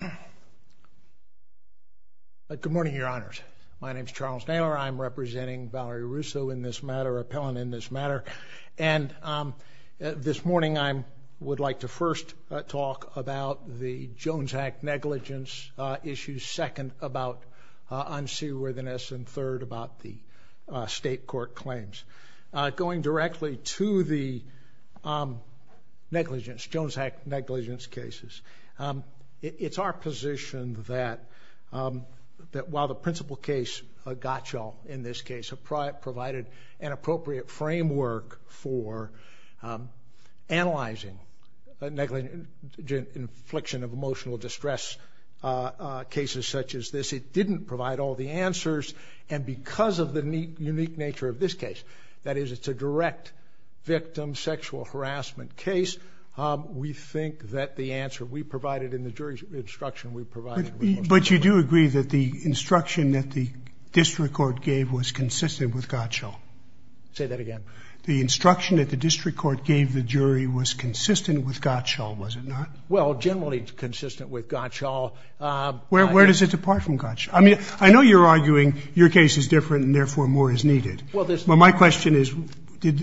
Good morning, Your Honors. My name is Charles Naylor. I'm representing Valerie Russo in this matter, an appellant in this matter, and this morning I would like to first talk about the Jones Act negligence issues, second about unseaworthiness, and third about the state court claims. Going directly to the Jones Act negligence cases, it's our position that while the principal case, Gottschall, in this case, provided an appropriate framework for analyzing an infliction of emotional distress cases such as this, it didn't provide all the answers, and because of the unique nature of this case, that is, it's a direct victim sexual harassment case, we think that the answer we provided in the jury's instruction, we provided in the court's instruction. But you do agree that the instruction that the district court gave was consistent with Gottschall? Say that again. The instruction that the district court gave the jury was consistent with Gottschall, was it not? Well, generally consistent with Gottschall. Where does it depart from Gottschall? I mean, I know you're arguing your case is different and therefore more is needed. Well, my question is,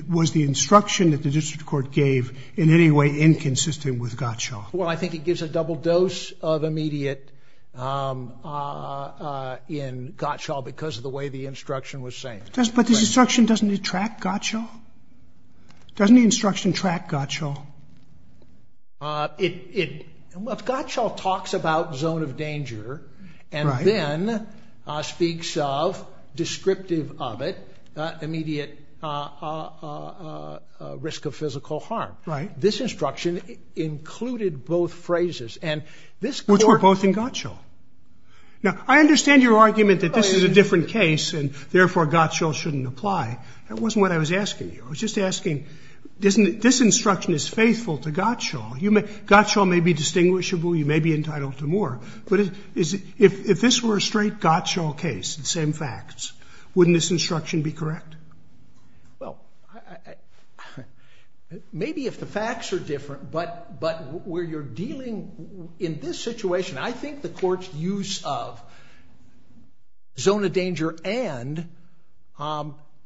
was the instruction that the district court gave in any way inconsistent with Gottschall? Well, I think it gives a double dose of immediate in Gottschall because of the way the instruction was saying it. But this instruction doesn't it track Gottschall? Doesn't the instruction track Gottschall? Gottschall talks about zone of danger and then speaks of, descriptive of it, immediate risk of physical harm. This instruction included both phrases. Which were both in Gottschall. Now, I understand your shouldn't apply. That wasn't what I was asking you. I was just asking, this instruction is faithful to Gottschall. Gottschall may be distinguishable. You may be entitled to more. But if this were a straight Gottschall case, the same facts, wouldn't this instruction be correct? Well, maybe if the facts are different. But where you're dealing in this situation, I think the court's use of zone of danger and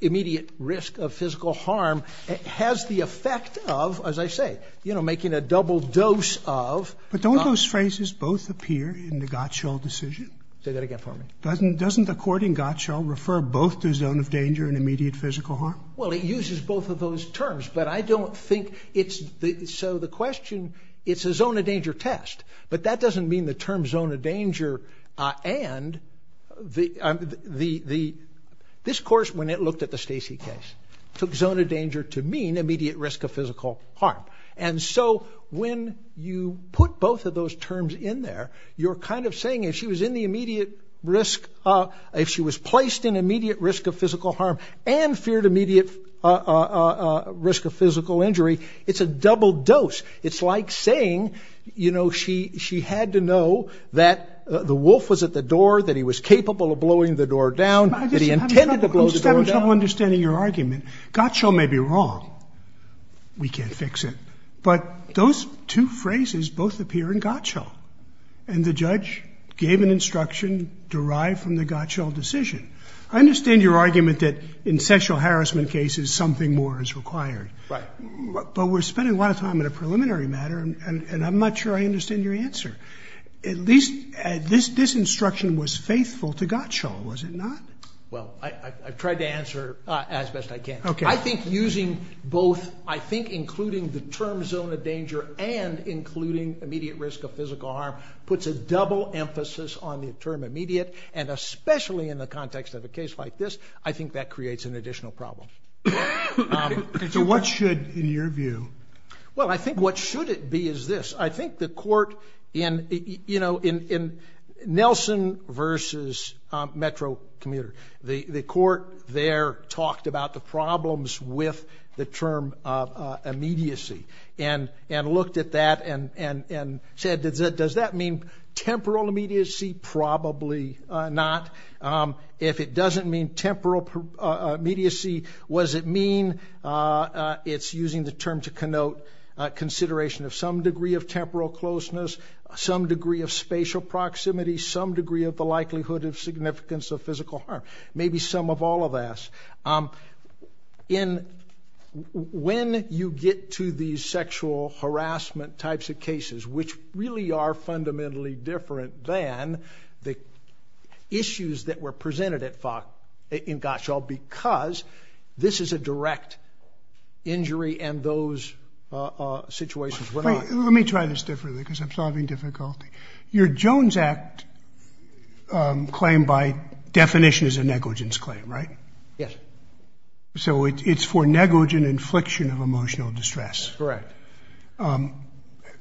immediate risk of physical harm has the effect of, as I say, you know, making a double dose of. But don't those phrases both appear in the Gottschall decision? Say that again for me. Doesn't the court in Gottschall refer both to zone of danger and immediate physical harm? Well, it uses both of those terms. But I don't think it's, so the question, it's a zone of danger test. But that doesn't mean the term zone of danger and the, this course, when it looked at the Stacey case, took zone of danger to mean immediate risk of physical harm. And so when you put both of those terms in there, you're kind of saying if she was in the immediate risk, if she was placed in immediate risk of physical harm and feared immediate risk of physical injury, it's a the wolf was at the door, that he was capable of blowing the door down, that he intended to blow the door down. I'm just having trouble understanding your argument. Gottschall may be wrong. We can't fix it. But those two phrases both appear in Gottschall. And the judge gave an instruction derived from the Gottschall decision. I understand your argument that in sexual harassment cases something more is required. Right. But we're spending a lot of time on a preliminary matter, and I'm not sure I understand your answer. At least, this instruction was faithful to Gottschall, was it not? Well, I've tried to answer as best I can. Okay. I think using both, I think including the term zone of danger and including immediate risk of physical harm puts a double emphasis on the term immediate. And especially in the context of a case like this, I think that creates an additional problem. So what should, in your view? Well, I think what should it be is this. I think the court in, you know, in Nelson versus Metro Commuter, the court there talked about the problems with the term immediacy and looked at that and said, does that mean temporal immediacy? Probably not. If it doesn't mean to connote consideration of some degree of temporal closeness, some degree of spatial proximity, some degree of the likelihood of significance of physical harm. Maybe some of all of us. When you get to these sexual harassment types of cases, which really are fundamentally different than the issues that were presented at, in Gottschall, because this is a direct injury and those situations were not. Let me try this differently because I'm solving difficulty. Your Jones Act claim by definition is a negligence claim, right? Yes. So it's for negligent infliction of emotional distress. Correct.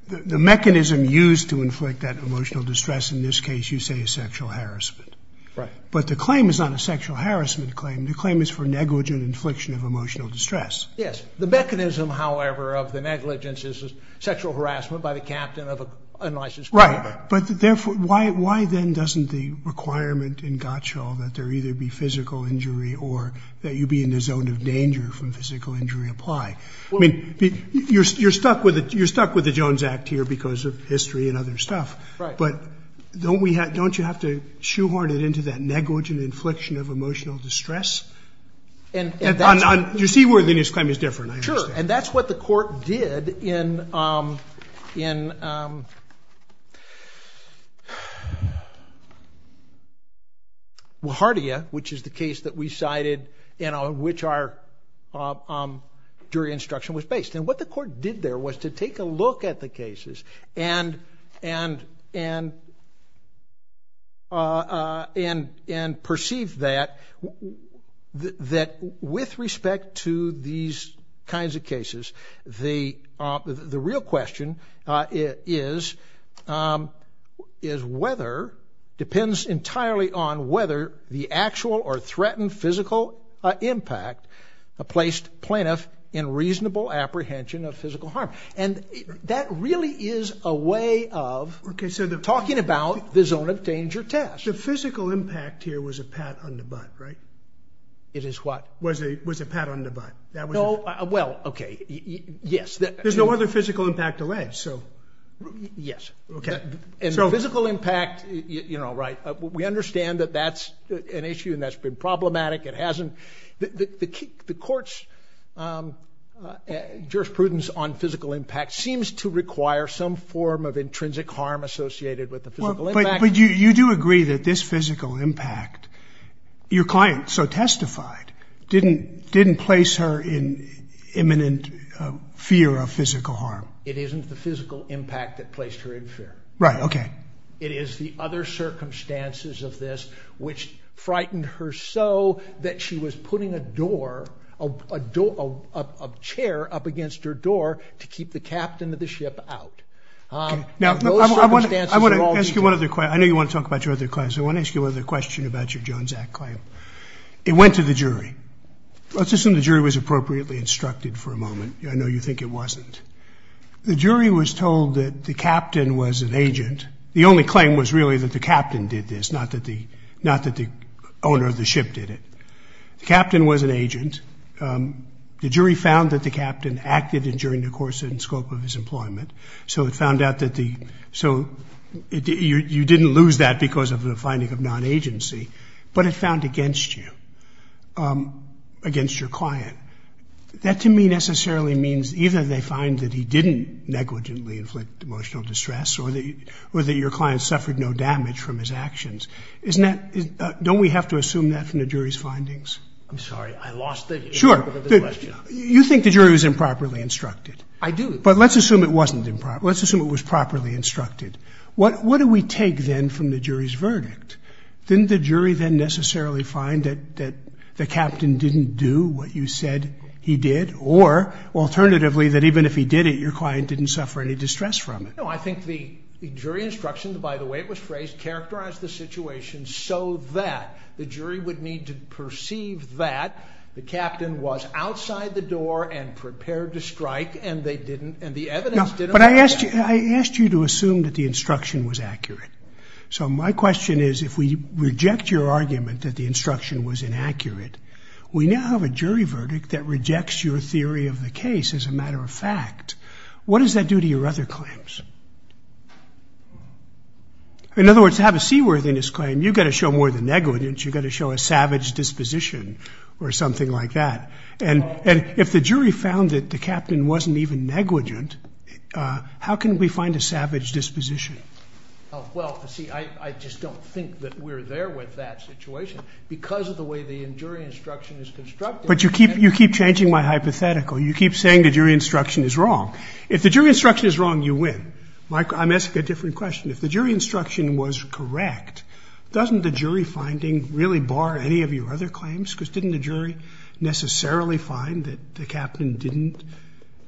The mechanism used to inflict that emotional distress in this case, you say is sexual harassment. Right. But the claim is not a sexual harassment claim. The claim is for negligent infliction of emotional distress. Yes. The mechanism, however, of the negligence is sexual harassment by the captain of an unlicensed aircraft. Right. But therefore, why then doesn't the requirement in Gottschall that there either be physical injury or that you be in a zone of danger from physical injury apply? I mean, you're stuck with the Jones Act here because of history and other stuff, but don't you have to shoehorn it into that negligent infliction of emotional distress? Do you see where the negligence claim is different? Sure. And that's what the court did in Wahartia, which is the case that we cited and on which our jury instruction was based. And what the court did there was to take a look at the that with respect to these kinds of cases, the the real question is, is whether depends entirely on whether the actual or threatened physical impact placed plaintiff in reasonable apprehension of physical harm. And that really is a way of talking about the zone of danger test. The physical impact here was a pat on the butt. Right. It is what was a was a pat on the butt. No. Well, OK. Yes. There's no other physical impact delay. So yes. OK. So physical impact. You know, right. We understand that that's an issue and that's been problematic. It hasn't the courts jurisprudence on physical impact seems to require some form of intrinsic harm associated with the physical. But you do agree that this physical impact your client so testified didn't didn't place her in imminent fear of physical harm. It isn't the physical impact that placed her in fear. Right. OK. It is the other circumstances of this which frightened her so that she was putting a door, a door, a chair up against her door to keep the captain of the ship out. Now, I want to I want to ask you one of the I know you want to talk about your other class. I want to ask you another question about your Jones Act claim. It went to the jury. Let's assume the jury was appropriately instructed for a moment. I know you think it wasn't. The jury was told that the captain was an agent. The only claim was really that the captain did this, not that the not that the owner of the ship did it. The captain was an agent. The jury found that the captain acted during the course and scope of his employment. So it found out that the so you didn't lose that because of the finding of non-agency, but it found against you, against your client. That to me necessarily means either they find that he didn't negligently inflict emotional distress or that your client suffered no damage from his actions. Isn't that don't we have to assume that from the jury's findings? I'm sorry, I lost the You think the jury was improperly instructed? I do. But let's assume it wasn't improper. Let's assume it was properly instructed. What what do we take then from the jury's verdict? Didn't the jury then necessarily find that that the captain didn't do what you said he did? Or alternatively, that even if he did it, your client didn't suffer any distress from it. I think the jury instruction, by the way, it was phrased characterize the situation so that the jury would need to perceive that the captain was outside the door and prepared to strike. And they didn't. And the evidence, but I asked you, I asked you to assume that the instruction was accurate. So my question is, if we reject your argument that the instruction was inaccurate, we now have a jury verdict that rejects your theory of the case. As a matter of fact, what does that do to your other claims? In other words, to have a seaworthiness claim, you've got to show more than negligence. You've got to show a savage disposition or something like that. And if the jury found that the captain wasn't even negligent, how can we find a savage disposition? Well, see, I just don't think that we're there with that situation because of the way the jury instruction is constructed. But you keep you keep changing my hypothetical. You keep saying the jury instruction is wrong. If the jury instruction is wrong, you win. I'm asking a different question. If the jury instruction was correct, doesn't the jury finding really bar any of your other claims? Because didn't the jury necessarily find that the captain didn't?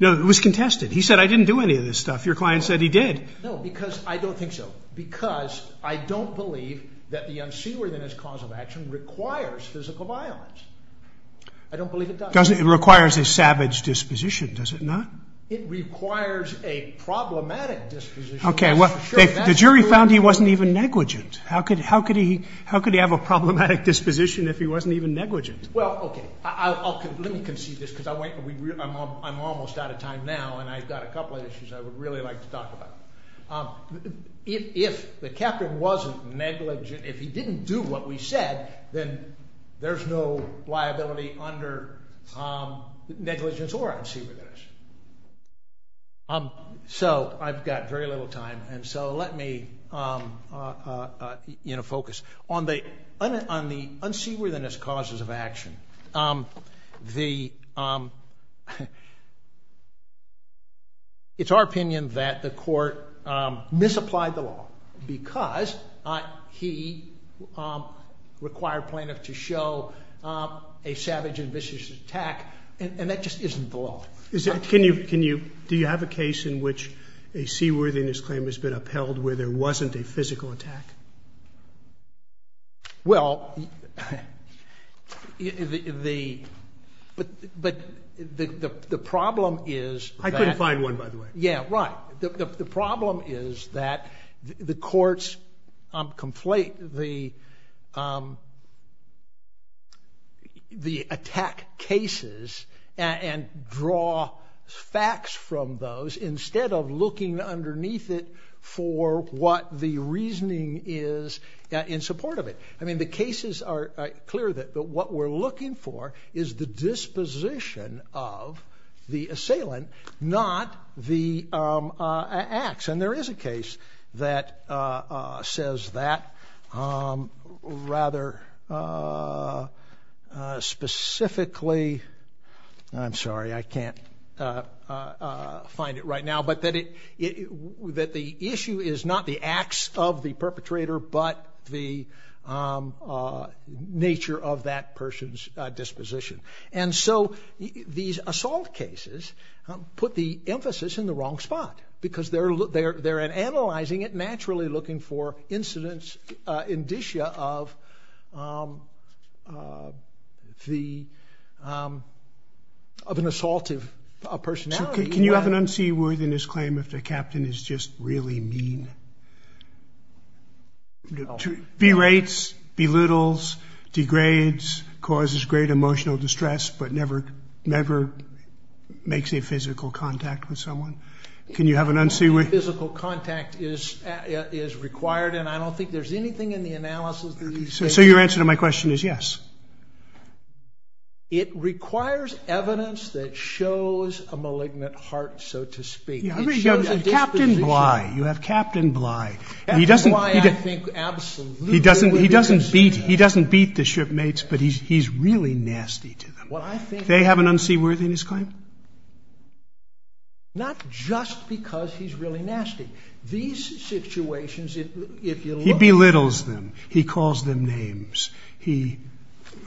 No, it was contested. He said, I didn't do any of this stuff. Your client said he did. No, because I don't think so. Because I don't believe that the unseaworthiness cause of action requires physical violence. I don't believe it does. It requires a savage disposition, does it not? It requires a negligent disposition. How could he have a problematic disposition if he wasn't even negligent? Well, okay, let me conceive this because I'm almost out of time now and I've got a couple of issues I would really like to talk about. If the captain wasn't negligent, if he didn't do what we said, then there's no liability under negligence or unseaworthiness. So I've got very little time, and so let me focus on the unseaworthiness causes of action. It's our opinion that the court misapplied the law because he required plaintiff to show a savage and vicious attack, and that just isn't the law. Do you have a case in which a seaworthiness claim has been upheld where there wasn't a physical attack? Well, but the problem is that... I couldn't find one, by the way. Yeah, right. The problem is that the courts complete the attack cases and draw facts from those instead of looking underneath it for what the reasoning is in support of it. I mean, the cases are clear, but what we're looking for is the disposition of the assailant, not the acts. And there is a case that says that rather specifically... I'm sorry, I can't find it right now, but that the issue is not the acts of the perpetrator, but the put the emphasis in the wrong spot because they're analyzing it naturally looking for incidents, indicia of an assaultive personality. Can you have an unseaworthiness claim if the captain is just really mean? Berates, belittles, degrades, causes great emotional distress, but never makes a physical contact with someone. Can you have an unseaworthiness... Physical contact is required, and I don't think there's anything in the analysis that... So your answer to my question is yes. It requires evidence that shows a malignant heart, so to speak. Captain Bly, you have Captain Bly. He doesn't beat the shipmates, but he's really nasty to them. They have an unseaworthiness claim? Not just because he's really nasty. These situations, if you look... He belittles them. He calls them names. I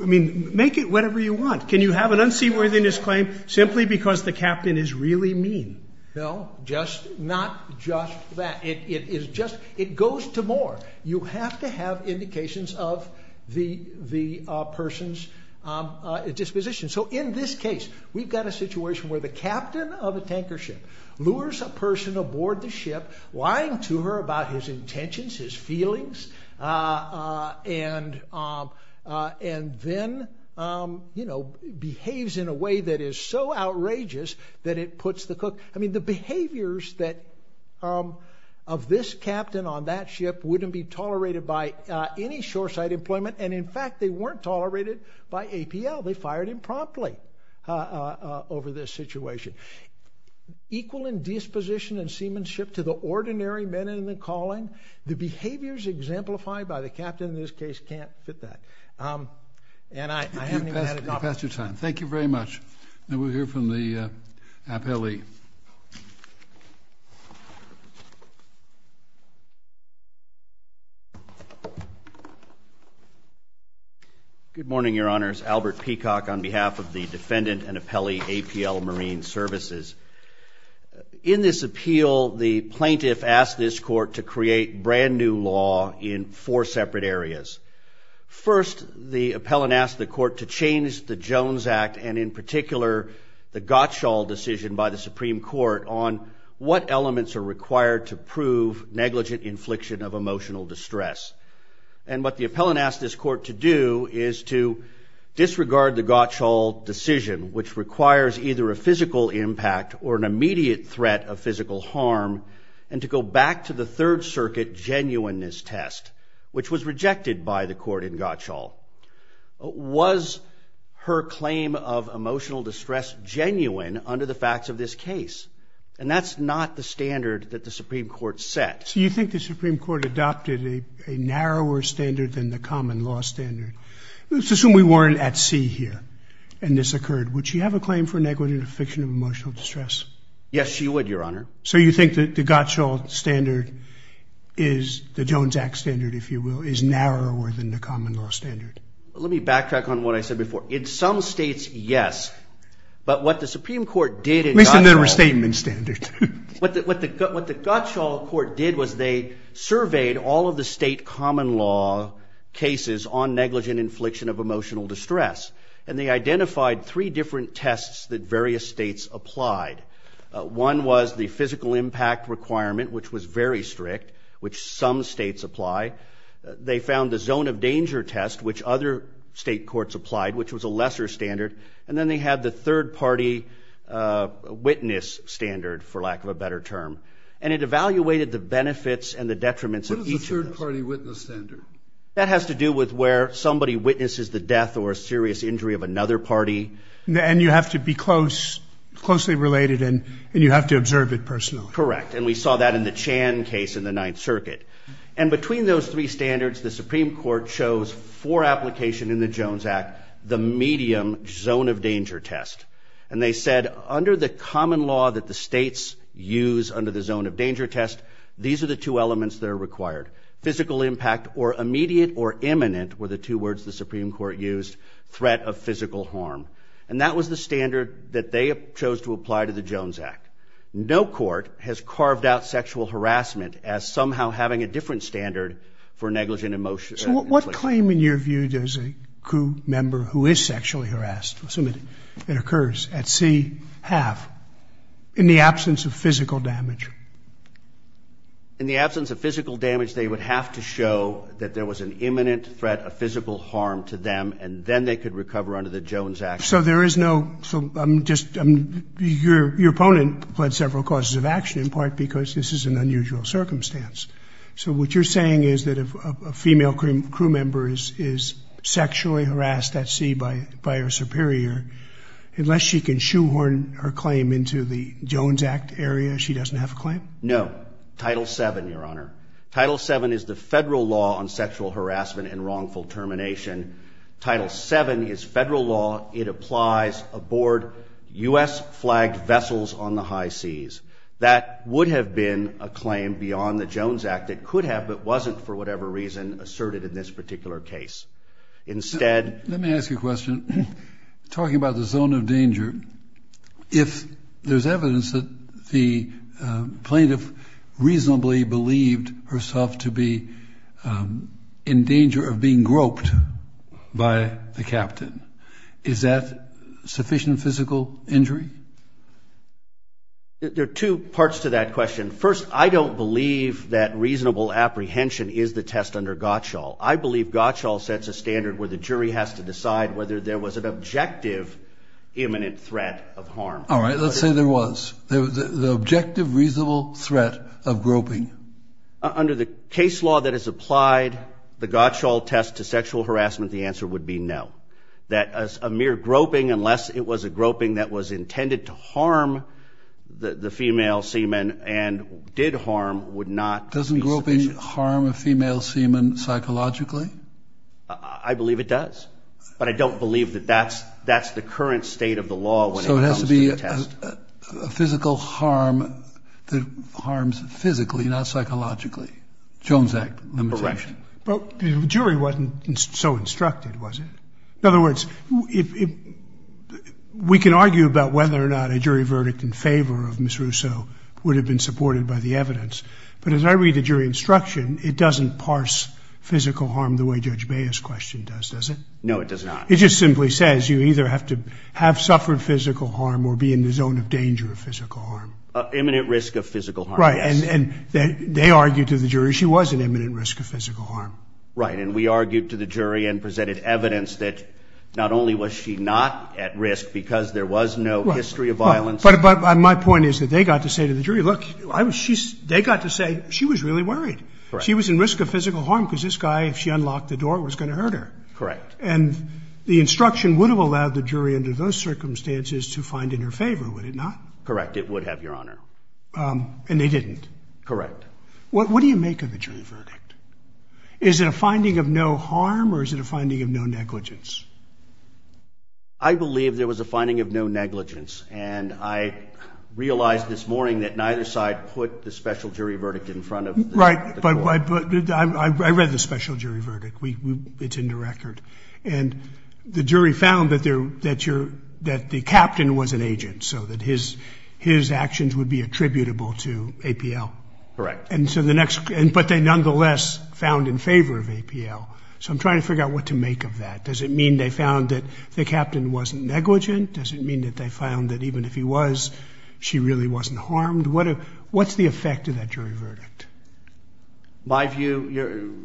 mean, make it whatever you want. Can you have an unseaworthiness claim simply because the captain is really mean? No, not just that. It goes to more. You have to have indications of the person's disposition. So in this case, we've got a situation where the captain of a tanker ship lures a person aboard the ship, lying to her about his intentions, his feelings, and then behaves in a way that is so outrageous that it puts the cook... I mean, the behaviors of this captain on that ship wouldn't be tolerated by any shoreside employment, and in fact, they weren't tolerated by APL. They fired him promptly over this situation. Equal in disposition and seamanship to the ordinary men in the calling, the behaviors exemplified by the captain in this case can't fit that. And I haven't even had... You've passed your time. Thank you very much. Now we'll hear from the appellee. Good morning, Your Honors. Albert Peacock on behalf of the defendant and appellee APL Services. In this appeal, the plaintiff asked this court to create brand new law in four separate areas. First, the appellant asked the court to change the Jones Act and, in particular, the Gottschall decision by the Supreme Court on what elements are required to prove negligent infliction of emotional distress. And what the appellant asked this court to do is to disregard the Gottschall decision, which requires either a physical impact or an immediate threat of physical harm, and to go back to the Third Circuit genuineness test, which was rejected by the court in Gottschall. Was her claim of emotional distress genuine under the facts of this case? And that's not the standard that the Supreme Court set. So you think the Supreme Court adopted a narrower standard than the common law standard. Let's assume we weren't at sea here and this occurred. Would she have a claim for negligent infliction of emotional distress? Yes, she would, Your Honor. So you think that the Gottschall standard is the Jones Act standard, if you will, is narrower than the common law standard? Let me backtrack on what I said before. In some states, yes. But what the Supreme Court did in Gottschall... At least in their all of the state common law cases on negligent infliction of emotional distress. And they identified three different tests that various states applied. One was the physical impact requirement, which was very strict, which some states apply. They found the zone of danger test, which other state courts applied, which was a lesser standard. And then they had the third party witness standard, for lack of a better term. And it evaluated the benefits and the detriments of each of those. What is the third party witness standard? That has to do with where somebody witnesses the death or serious injury of another party. And you have to be close, closely related, and you have to observe it personally. Correct. And we saw that in the Chan case in the Ninth Circuit. And between those three standards, the Supreme Court chose for application in the Jones Act, the medium zone of danger test. And they said, under the common law that the states use under the zone of danger test, these are the two elements that are required. Physical impact, or immediate or imminent, were the two words the Supreme Court used. Threat of physical harm. And that was the standard that they chose to apply to the Jones Act. No court has carved out sexual harassment as somehow having a different standard for negligent emotion. So what claim, in your view, does a crew member who is sexually harassed, assume it occurs at sea, have in the absence of damage? In the absence of physical damage, they would have to show that there was an imminent threat of physical harm to them, and then they could recover under the Jones Act. So there is no, so I'm just, your opponent pled several causes of action, in part because this is an unusual circumstance. So what you're saying is that if a female crew member is sexually harassed at sea by she doesn't have a claim? No. Title VII, your honor. Title VII is the federal law on sexual harassment and wrongful termination. Title VII is federal law. It applies aboard U.S. flagged vessels on the high seas. That would have been a claim beyond the Jones Act. It could have, but wasn't for whatever reason, asserted in this particular case. Instead... Let me ask you a If there's evidence that the plaintiff reasonably believed herself to be in danger of being groped by the captain, is that sufficient physical injury? There are two parts to that question. First, I don't believe that reasonable apprehension is the test under Gottschall. I believe Gottschall sets a standard where the jury has to decide whether there was an objective imminent threat of harm. All right, let's say there was. The objective reasonable threat of groping. Under the case law that is applied, the Gottschall test to sexual harassment, the answer would be no. That a mere groping, unless it was a groping that was intended to harm the female seaman and did harm, would not... Doesn't groping harm a female seaman psychologically? I believe it does, but I don't believe that that's the current state of the law when it comes to the test. So it has to be a physical harm that harms physically, not psychologically. Jones Act limitation. Correct. But the jury wasn't so instructed, was it? In other words, we can argue about whether or not a jury verdict in favor of Ms. Russo would have been supported by the evidence. But as I read the jury instruction, it doesn't parse physical harm the way Judge Baez's question does, does it? No, it does not. It just simply says you either have to have suffered physical harm or be in the zone of danger of physical harm. Imminent risk of physical harm. Right. And they argued to the jury she was an imminent risk of physical harm. Right. And we argued to the jury and presented evidence that not only was she not at risk because there was no history of they got to say she was really worried. She was in risk of physical harm because this guy, if she unlocked the door, was going to hurt her. Correct. And the instruction would have allowed the jury under those circumstances to find in her favor, would it not? Correct. It would have, Your Honor. And they didn't. Correct. What do you make of the jury verdict? Is it a finding of no harm or is it a finding of no negligence? I believe there was a finding of no negligence. And I realized this put the special jury verdict in front of the court. Right. But I read the special jury verdict. It's in the record. And the jury found that the captain was an agent so that his actions would be attributable to APL. Correct. But they nonetheless found in favor of APL. So I'm trying to figure out what to make of that. Does it mean they found that the captain wasn't negligent? Does it mean that they found that even if he was, she really wasn't harmed? What's the effect of that jury verdict? My view,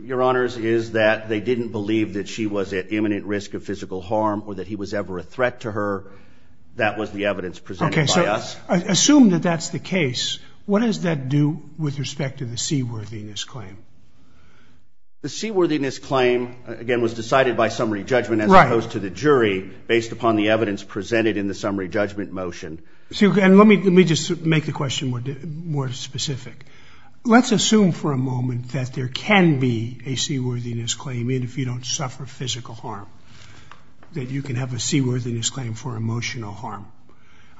Your Honors, is that they didn't believe that she was at imminent risk of physical harm or that he was ever a threat to her. That was the evidence presented by us. Assume that that's the case. What does that do with respect to the seaworthiness claim? The seaworthiness claim, again, was decided by summary judgment as opposed to the jury based upon the evidence presented in summary judgment motion. Let me just make the question more specific. Let's assume for a moment that there can be a seaworthiness claim if you don't suffer physical harm, that you can have a seaworthiness claim for emotional harm.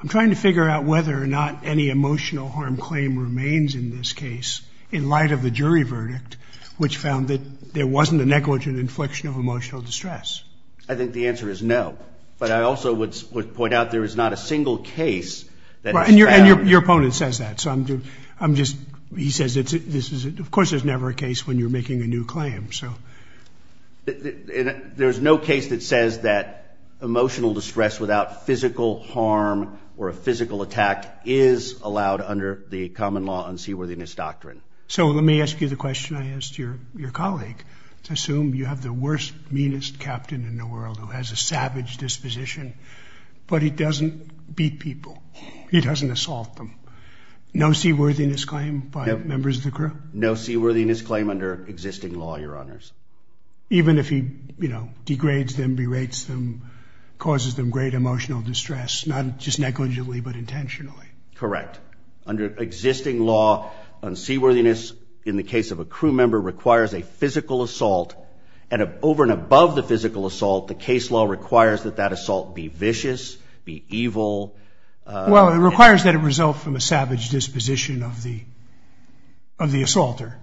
I'm trying to figure out whether or not any emotional harm claim remains in this case in light of the jury verdict, which found that there wasn't a negligent infliction of emotional distress. I think the answer is no. But I also would point out there is not a single case that... And your opponent says that, so I'm just... He says, of course, there's never a case when you're making a new claim, so... There's no case that says that emotional distress without physical harm or a physical attack is allowed under the common law unseaworthiness doctrine. So let me ask you the question I asked your colleague. Let's assume you have the worst, meanest captain in the world who has a ship that doesn't beat people. He doesn't assault them. No seaworthiness claim by members of the crew? No seaworthiness claim under existing law, your honors. Even if he, you know, degrades them, berates them, causes them great emotional distress, not just negligently, but intentionally? Correct. Under existing law, unseaworthiness in the case of a crew member requires a physical assault and over and above the physical assault, the case law requires that that assault be vicious, be evil. Well, it requires that it result from a savage disposition of the assaulter.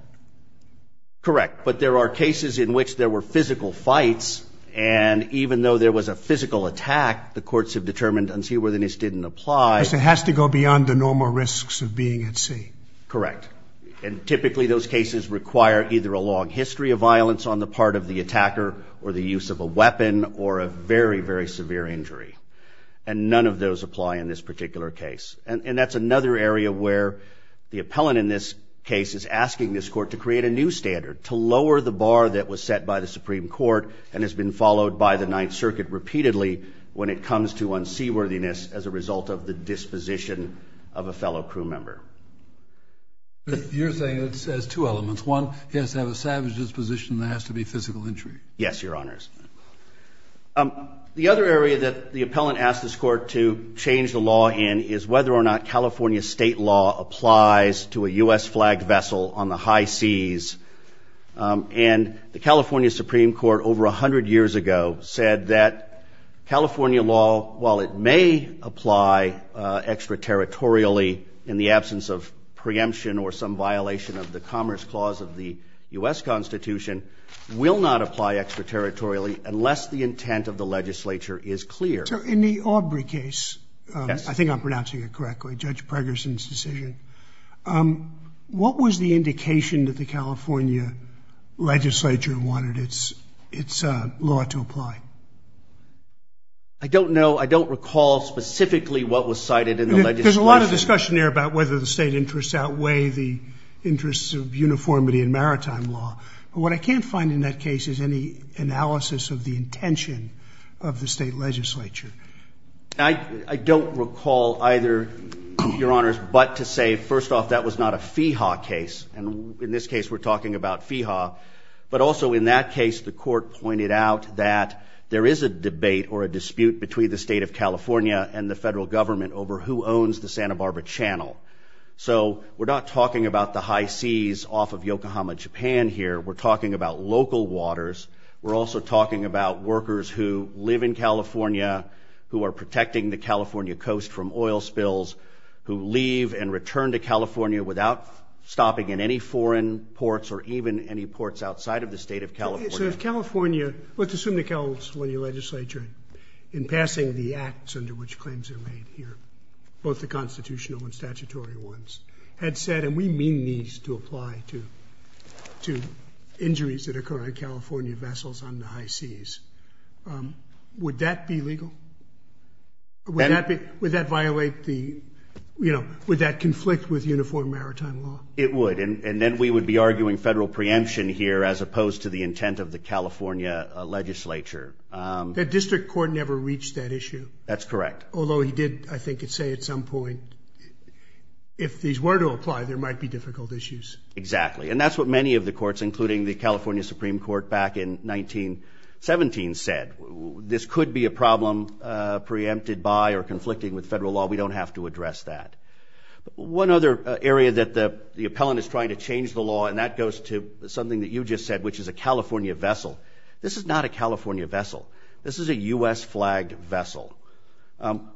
Correct. But there are cases in which there were physical fights and even though there was a physical attack, the courts have determined unseaworthiness didn't apply. It has to go beyond the normal risks of being at sea. Correct. And typically those cases require either a long history of violence on the part of the attacker or the use of a weapon or a very, very severe injury. And none of those apply in this particular case. And that's another area where the appellant in this case is asking this court to create a new standard, to lower the bar that was set by the Supreme Court and has been followed by the Ninth Circuit repeatedly when it comes to unseaworthiness as a result of the disposition of a fellow crew member. But you're saying it says two elements. One, he has to have a savage disposition that has to be physical injury. Yes, Your Honors. The other area that the appellant asked this court to change the law in is whether or not California state law applies to a U.S. flagged vessel on the high seas. And the California Supreme Court over 100 years ago said that California law, while it may apply extraterritorially in the absence of preemption or some violation of the Commerce Clause of the U.S. Constitution, will not apply extraterritorially unless the intent of the legislature is clear. So in the Aubrey case, I think I'm pronouncing it correctly, Judge Pregerson's decision, what was the indication that the California legislature wanted its law to apply? I don't know. I don't recall specifically what was cited in the legislation. There's a lot of discussion here about whether the state interests outweigh the interests of uniformity in maritime law. But what I can't find in that case is any analysis of the intention of the state legislature. I don't recall either, Your Honors, but to say, first off, that was not a FEHA case. And in this case, we're talking about FEHA. But also in that case, the court pointed out that there is a debate or a dispute between the state of California and the federal government over who owns the Santa Barbara Channel. So we're not talking about the high seas off of Yokohama, Japan here. We're talking about local waters. We're also talking about workers who live in California, who are protecting the California coast from oil spills, who leave and return to California without stopping in any foreign ports or even any ports outside of the state of California. So if California, let's assume the California legislature, in passing the acts under which claims are made here, both the constitutional and statutory ones, had said, and we mean these to apply to injuries that occur on California vessels on the high seas, would that be legal? Would that violate the, you know, would that conflict with uniform maritime law? It would. And then we would be arguing federal preemption here as opposed to the intent of the California legislature. The district court never reached that issue. That's correct. Although he did, I think, say at some point, if these were to apply, there might be difficult issues. Exactly. And that's what many of the courts, including the California Supreme Court back in 1917, said. This could be a problem preempted by or conflicting with federal law. We don't have to address that. One other area that the appellant is trying to change the law, and that goes to something that you just said, which is a California vessel. This is not a California vessel. This is a U.S.-flagged vessel.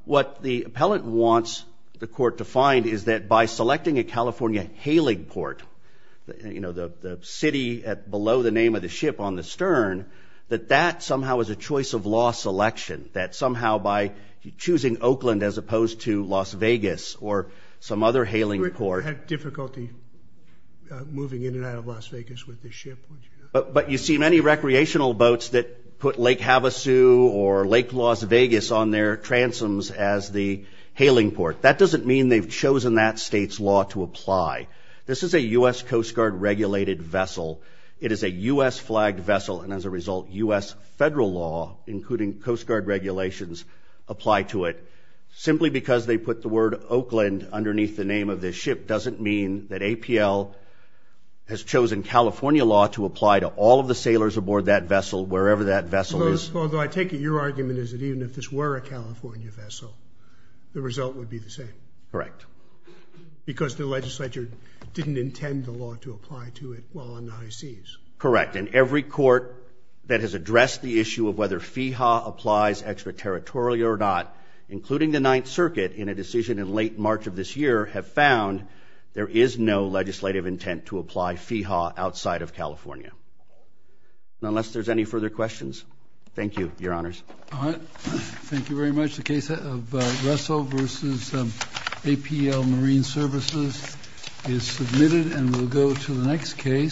What the appellant wants the court to find is that by selecting a California hailing port, you know, the city below the name of the ship on the stern, that that somehow is a choice of law selection, that somehow by choosing Oakland as opposed to Las Vegas or some other hailing port... You wouldn't have difficulty moving in and out of Las Vegas with this ship, would you? But you see many recreational boats that put Lake Havasu or Lake Las Vegas on their transoms as the hailing port. That doesn't mean they've chosen that state's law to apply. This is a U.S. Coast Guard-regulated vessel. It is a U.S.-flagged vessel. And as a result, U.S. federal law, including Coast Guard regulations, apply to it. Simply because they put the word Oakland underneath the name of this ship doesn't mean that APL has chosen California law to apply to all of the sailors aboard that vessel, wherever that vessel is. Although I take it your argument is that even if this were a California vessel, the result would be the same. Correct. Because the legislature didn't intend the law to apply to it while on the high seas. Correct. And every court that has addressed the issue of whether FEHA applies extraterritorially or not, including the Ninth Circuit, in a decision in late March of this year, have found there is no legislative intent to apply FEHA outside of California. Unless there's any further questions? Thank you, Your Honors. All right. Thank you very much. The case of Russell v. APL Marine Services is submitted and we'll go to the next case.